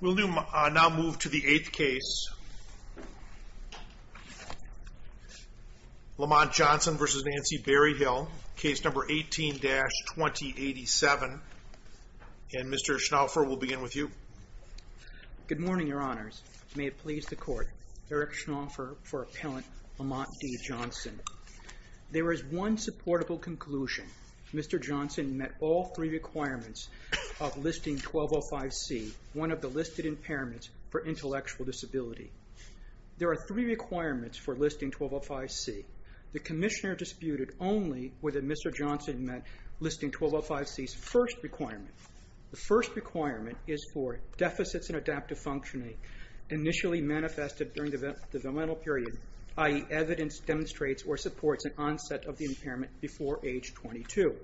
We will now move to the eighth case, Lamont Johnson v. Nancy Berryhill, case number 18-2087. And Mr. Schnaufer, we will begin with you. Good morning, Your Honors. May it please the Court, Eric Schnaufer for Appellant Lamont D. Johnson. There is one supportable conclusion. Mr. Johnson met all three requirements of Listing 1205C, one of the listed impairments for intellectual disability. There are three requirements for Listing 1205C. The Commissioner disputed only whether Mr. Johnson met Listing 1205C's first requirement. The first requirement is for deficits in adaptive functioning initially manifested during the developmental period, i.e., evidence demonstrates or supports an onset of the impairment before age 22.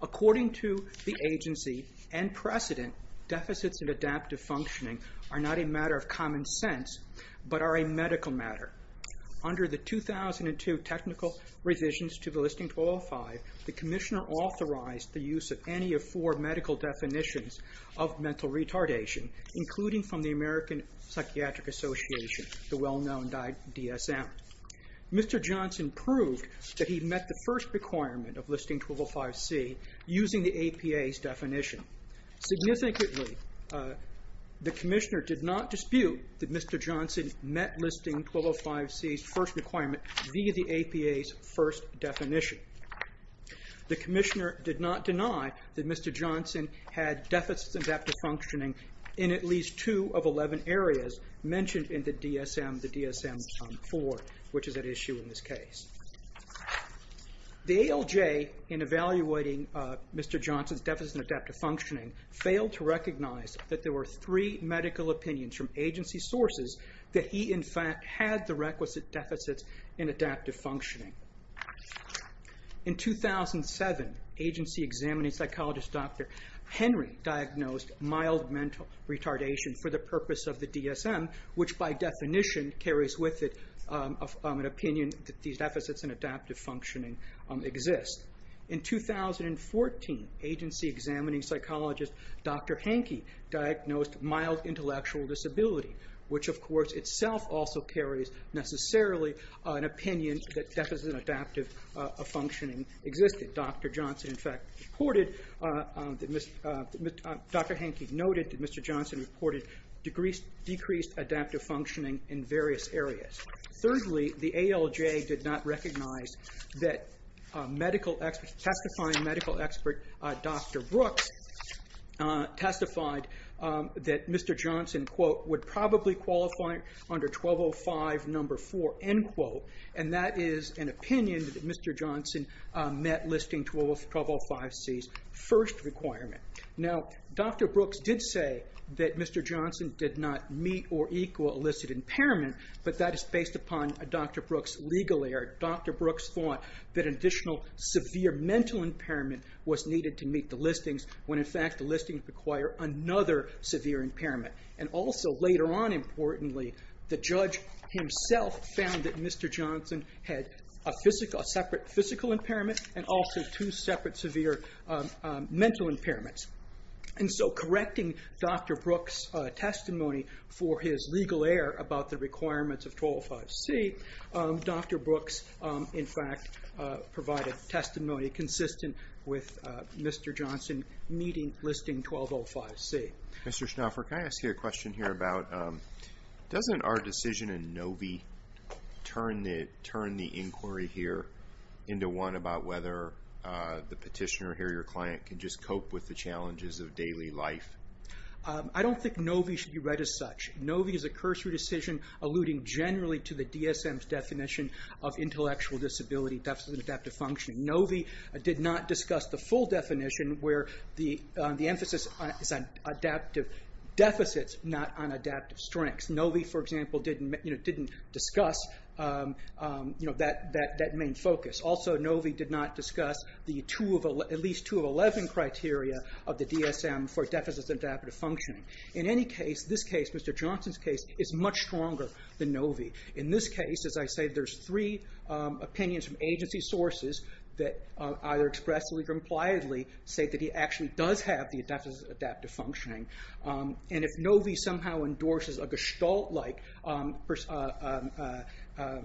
According to the agency and precedent, deficits in adaptive functioning are not a matter of common sense, but are a medical matter. Under the 2002 technical revisions to the Listing 1205, the Commissioner authorized the use of any of four medical definitions of mental retardation, including from the American Psychiatric Association, the well-known DSM. Mr. Johnson proved that he met the first requirement of Listing 1205C using the APA's definition. Significantly, the Commissioner did not dispute that Mr. Johnson met Listing 1205C's first requirement via the APA's first definition. The Commissioner did not deny that Mr. Johnson had deficits in adaptive functioning in at least two of 11 areas mentioned in the DSM, the DSM-IV, which is at issue in this case. The ALJ, in evaluating Mr. Johnson's deficits in adaptive functioning, failed to recognize that there were three medical opinions from agency sources that he in fact had the requisite deficits in adaptive functioning. In 2007, agency-examining psychologist Dr. Henry diagnosed mild mental retardation for the purpose of the DSM, which by definition carries with it an opinion that these deficits in adaptive functioning exist. In 2014, agency-examining psychologist Dr. Hankey diagnosed mild intellectual disability, which of course itself also carries necessarily an opinion that deficits in adaptive functioning existed. Dr. Johnson in fact reported, Dr. Hankey noted that Mr. Johnson reported decreased adaptive functioning in various areas. Thirdly, the ALJ did not recognize that testifying medical expert Dr. Brooks testified that Mr. Johnson, quote, would probably qualify under 1205 number 4, end quote, and that is an opinion that Mr. Johnson met listing 1205C's first requirement. Now, Dr. Brooks did say that Mr. Johnson did not meet or equal illicit impairment, but that is based upon Dr. Brooks' legal error. Dr. Brooks thought that an additional severe mental impairment was needed to meet the listings when in fact the listings require another severe impairment. And also later on, importantly, the judge himself found that Mr. Johnson had a separate physical impairment and also two separate severe mental impairments. And so correcting Dr. Brooks' testimony for his legal error about the requirements of 1205C, Dr. Brooks in fact provided testimony consistent with Mr. Johnson meeting listing 1205C. Mr. Schnaufer, can I ask you a question here about, doesn't our decision in NOVI turn the inquiry here into one about whether the petitioner here, your client, can just cope with the challenges of daily life? I don't think NOVI should be read as such. NOVI is a cursory decision alluding generally to the DSM's definition of intellectual disability deficit adaptive functioning. NOVI did not discuss the full definition where the emphasis is on adaptive deficits, not on adaptive strengths. NOVI, for example, didn't discuss that main focus. Also, NOVI did not discuss at least two of 11 criteria of the DSM for deficit adaptive functioning. In any case, this case, Mr. Johnson's case, is much stronger than NOVI. In this case, as I say, there's three opinions from agency sources that either expressly or impliedly say that he actually does have the deficit adaptive functioning. And if NOVI somehow endorses a Gestalt-like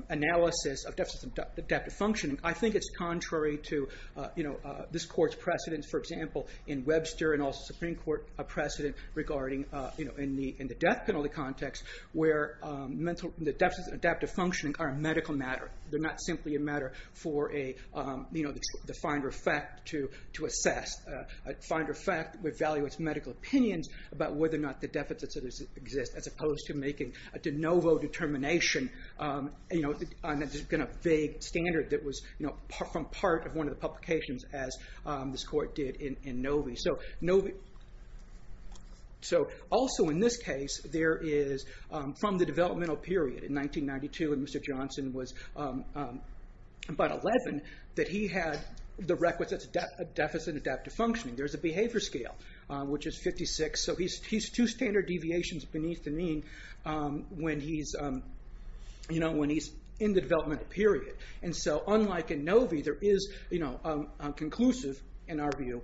analysis of deficit adaptive functioning, I think it's contrary to, you know, this Court's precedent, for example, in Webster and also Supreme Court precedent regarding, you know, in the death penalty context where the deficits in adaptive functioning are a medical matter. They're not simply a matter for a, you know, the finder of fact to assess. A finder of fact evaluates medical opinions about whether or not the deficits exist as opposed to making a de novo determination, you know, on a vague standard that was, you know, from part of one of the publications as this Court did in NOVI. So, also in this case, there is, from the developmental period in 1992, when Mr. Johnson was about 11, that he had the requisite deficit adaptive functioning. There's a behavior scale, which is 56, so he's two standard deviations beneath the mean when he's, you know, when he's in the developmental period. And so, unlike in NOVI, there is, you know, conclusive, in our view,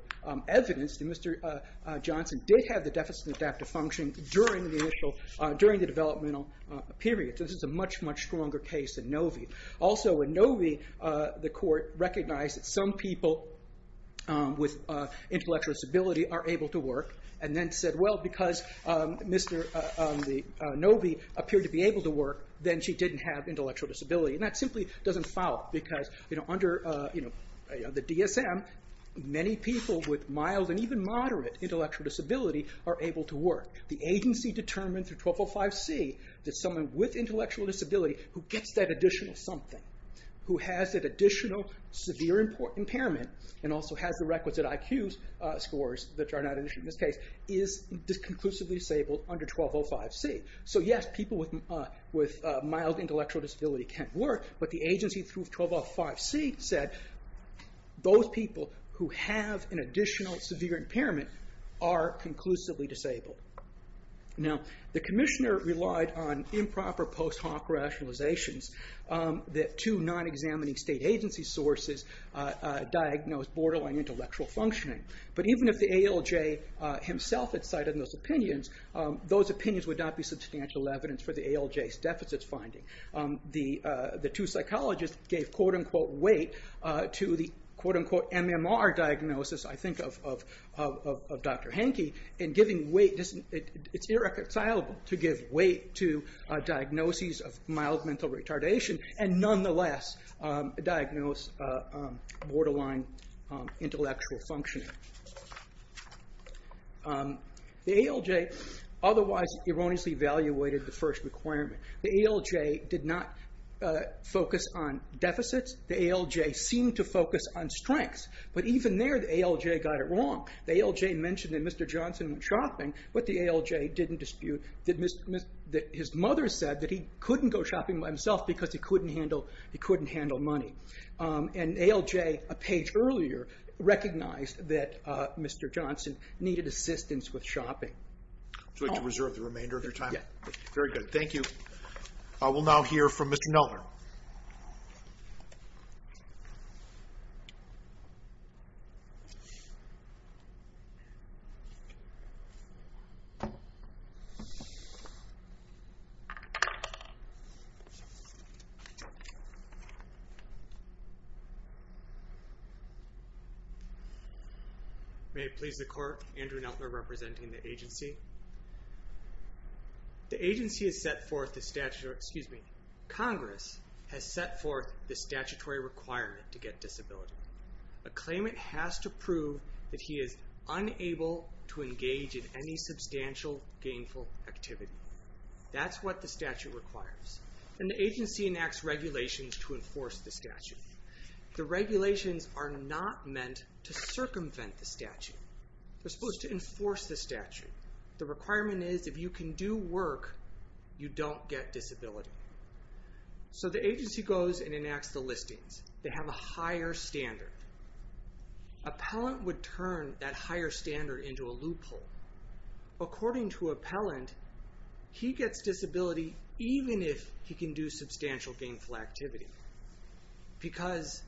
evidence that Mr. Johnson did have the deficit adaptive function during the initial, during the developmental period. So this is a much, much stronger case than NOVI. Also, in NOVI, the Court recognized that some people with intellectual disability are able to work and then said, well, because Mr. NOVI appeared to be able to work, then she didn't have intellectual disability. And that simply doesn't fall because, you know, under the DSM, many people with mild and even moderate intellectual disability are able to work. The agency determined through 1205C that someone with intellectual disability who gets that additional something, who has that additional severe impairment and also has the requisite IQ scores that are not issued in this case, is conclusively disabled under 1205C. So yes, people with mild intellectual disability can work, but the agency through 1205C said, those people who have an additional severe impairment are conclusively disabled. Now, the Commissioner relied on improper post hoc rationalizations that two non-examining state agency sources diagnosed borderline intellectual functioning. But even if the ALJ himself had cited those opinions, those opinions would not be substantial evidence for the ALJ's deficits finding. The two psychologists gave quote-unquote weight to the quote-unquote MMR diagnosis, I think, of Dr. Henke, and giving weight, it's irreconcilable to give weight to diagnoses of mild mental retardation and nonetheless diagnose borderline intellectual functioning. The ALJ otherwise erroneously evaluated the first requirement. The ALJ did not focus on deficits. The ALJ seemed to focus on strengths. But even there, the ALJ got it wrong. The ALJ mentioned that Mr. Johnson went shopping, but the ALJ didn't dispute that his mother said that he couldn't go shopping by himself because he couldn't handle money. And ALJ, a page earlier, recognized that Mr. Johnson needed assistance with shopping. Would you like to reserve the remainder of your time? Yes. Very good. Thank you. We'll now hear from Mr. Kneller. May it please the court, Andrew Kneller representing the agency. The agency has set forth the statute, or excuse me, Congress has set forth the statutory requirement to get disability. A claimant has to prove that he is unable to engage in any substantial gainful activity. That's what the statute requires. And the agency enacts regulations to enforce the statute. The regulations are not meant to circumvent the statute. They're supposed to enforce the statute. The requirement is if you can do work, you don't get disability. So the agency goes and enacts the listings. They have a higher standard. Appellant would turn that higher standard into a loophole. According to appellant, he gets disability even if he can do substantial gainful activity. Because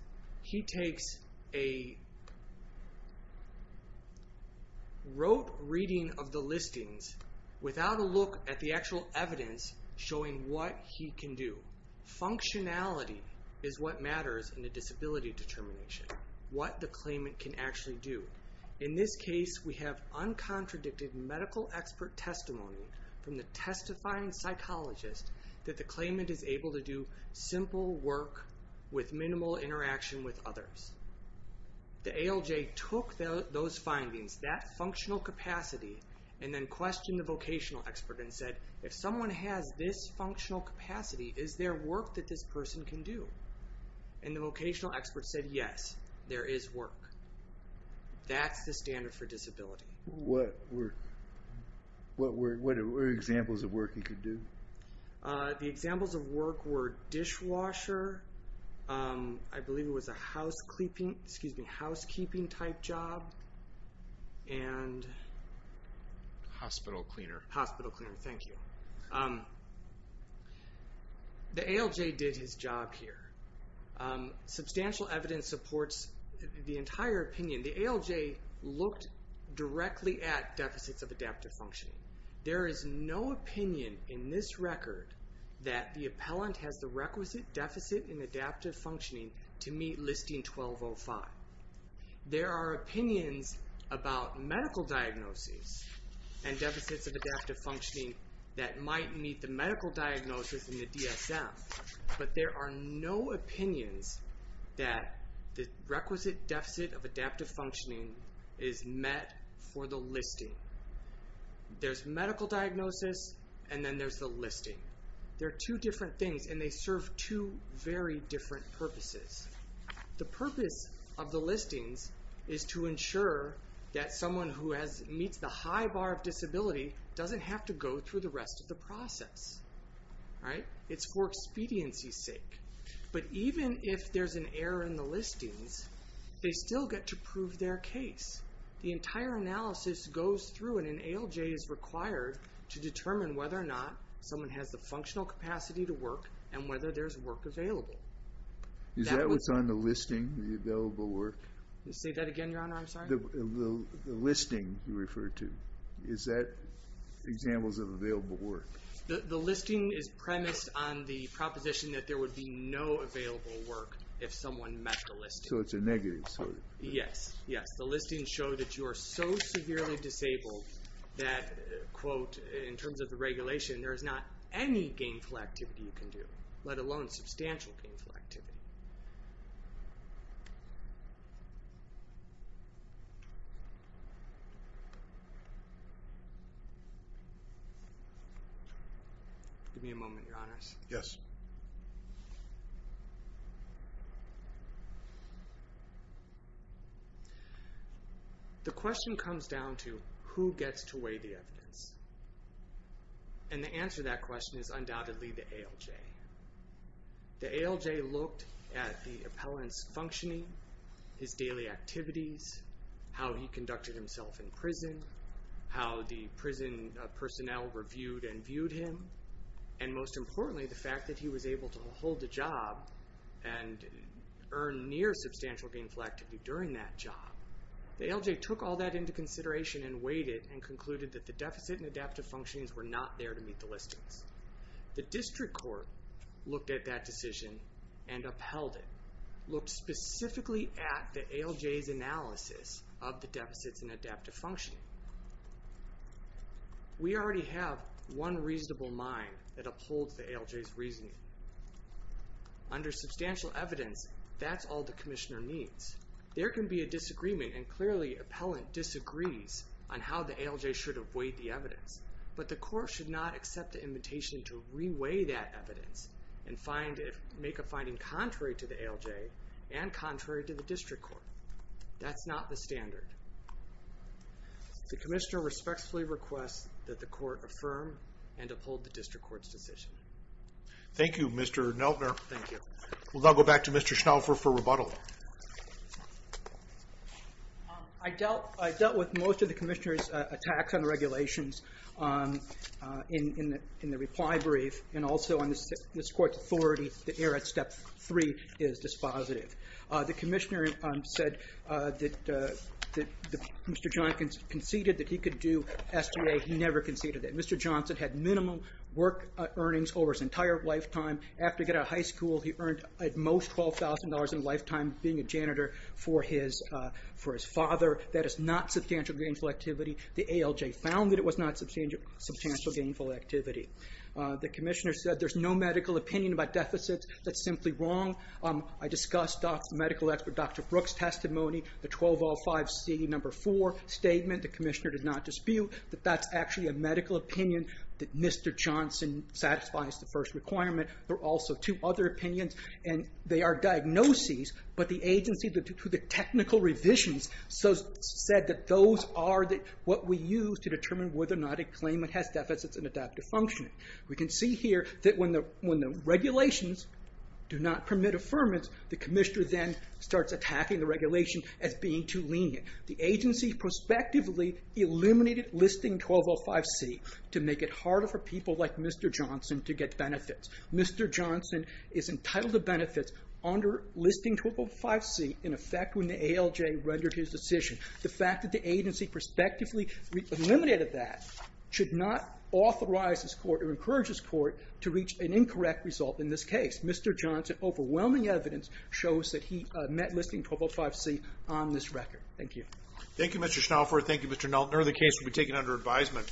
he takes a rote reading of the listings without a look at the actual evidence showing what he can do. Functionality is what matters in a disability determination, what the claimant can actually do. In this case, we have uncontradicted medical expert testimony from the testifying psychologist that the claimant is able to do simple work with minimal interaction with others. The ALJ took those findings, that functional capacity, and then questioned the vocational expert and said, if someone has this functional capacity, is there work that this person can do? And the vocational expert said, yes, there is work. That's the standard for disability. What were examples of work he could do? The examples of work were dishwasher, I believe it was a housekeeping type job, and... Hospital cleaner. Hospital cleaner, thank you. The ALJ did his job here. Substantial evidence supports the entire opinion. The ALJ looked directly at deficits of adaptive functioning. There is no opinion in this record that the appellant has the requisite deficit in adaptive functioning to meet Listing 1205. There are opinions about medical diagnoses and deficits of adaptive functioning that might meet the medical diagnosis in the DSM, but there are no opinions that the requisite deficit of adaptive functioning is met for the listing. There's medical diagnosis, and then there's the listing. They're two different things, and they serve two very different purposes. The purpose of the listings is to ensure that someone who meets the high bar of disability doesn't have to go through the rest of the process. It's for expediency's sake. But even if there's an error in the listings, they still get to prove their case. The entire analysis goes through, and an ALJ is required to determine whether or not someone has the functional capacity to work and whether there's work available. Is that what's on the listing, the available work? Say that again, Your Honor, I'm sorry? The listing you referred to. Is that examples of available work? The listing is premised on the proposition that there would be no available work if someone met the listing. So it's a negative. Yes, yes. The listings show that you are so severely disabled that, quote, in terms of the regulation, there is not any gainful activity you can do, let alone substantial gainful activity. Give me a moment, Your Honor. Yes. The question comes down to who gets to weigh the evidence. And the answer to that question is undoubtedly the ALJ. The ALJ looked at the appellant's functioning, his daily activities, how he conducted himself in prison, how the prison personnel reviewed and viewed him, and most importantly, the fact that he was able to hold a job and earn near substantial gainful activity during that job. The ALJ took all that into consideration and weighed it and concluded that the deficit and adaptive functionings were not there to meet the listings. The district court looked at that decision and upheld it, looked specifically at the ALJ's analysis of the deficits and adaptive functioning. We already have one reasonable mind that upholds the ALJ's reasoning. Under substantial evidence, that's all the commissioner needs. There can be a disagreement, and clearly appellant disagrees on how the ALJ should have weighed the evidence. But the court should not accept the invitation to re-weigh that evidence and make a finding contrary to the ALJ and contrary to the district court. That's not the standard. The commissioner respectfully requests that the court affirm and uphold the district court's decision. Thank you, Mr. Neltner. Thank you. We'll now go back to Mr. Schnaufer for rebuttal. I dealt with most of the commissioner's attacks on the regulations in the reply brief, and also on this court's authority to err at Step 3 is dispositive. The commissioner said that Mr. Johnson conceded that he could do SBA. He never conceded it. Mr. Johnson had minimum work earnings over his entire lifetime. After he got out of high school, he earned at most $12,000 in a lifetime being a janitor for his father. That is not substantial gainful activity. The ALJ found that it was not substantial gainful activity. The commissioner said there's no medical opinion about deficits. That's simply wrong. I discussed the medical expert Dr. Brooks' testimony, the 1205C, number 4 statement. The commissioner did not dispute that that's actually a medical opinion that Mr. Johnson satisfies the first requirement. There are also two other opinions, and they are diagnoses, but the agency to the technical revisions said that those are what we use to determine whether or not a claimant has deficits and adaptive functioning. We can see here that when the regulations do not permit affirmance, the commissioner then starts attacking the regulation as being too lenient. The agency prospectively eliminated listing 1205C to make it harder for people like Mr. Johnson to get benefits. Mr. Johnson is entitled to benefits under listing 1205C in effect when the ALJ rendered his decision. The fact that the agency prospectively eliminated that should not authorize this court or encourage this court to reach an incorrect result in this case. Mr. Johnson, overwhelming evidence, shows that he met listing 1205C on this record. Thank you. Thank you, Mr. Schnaufer. Thank you, Mr. Knowlton. The case will be taken under advisement.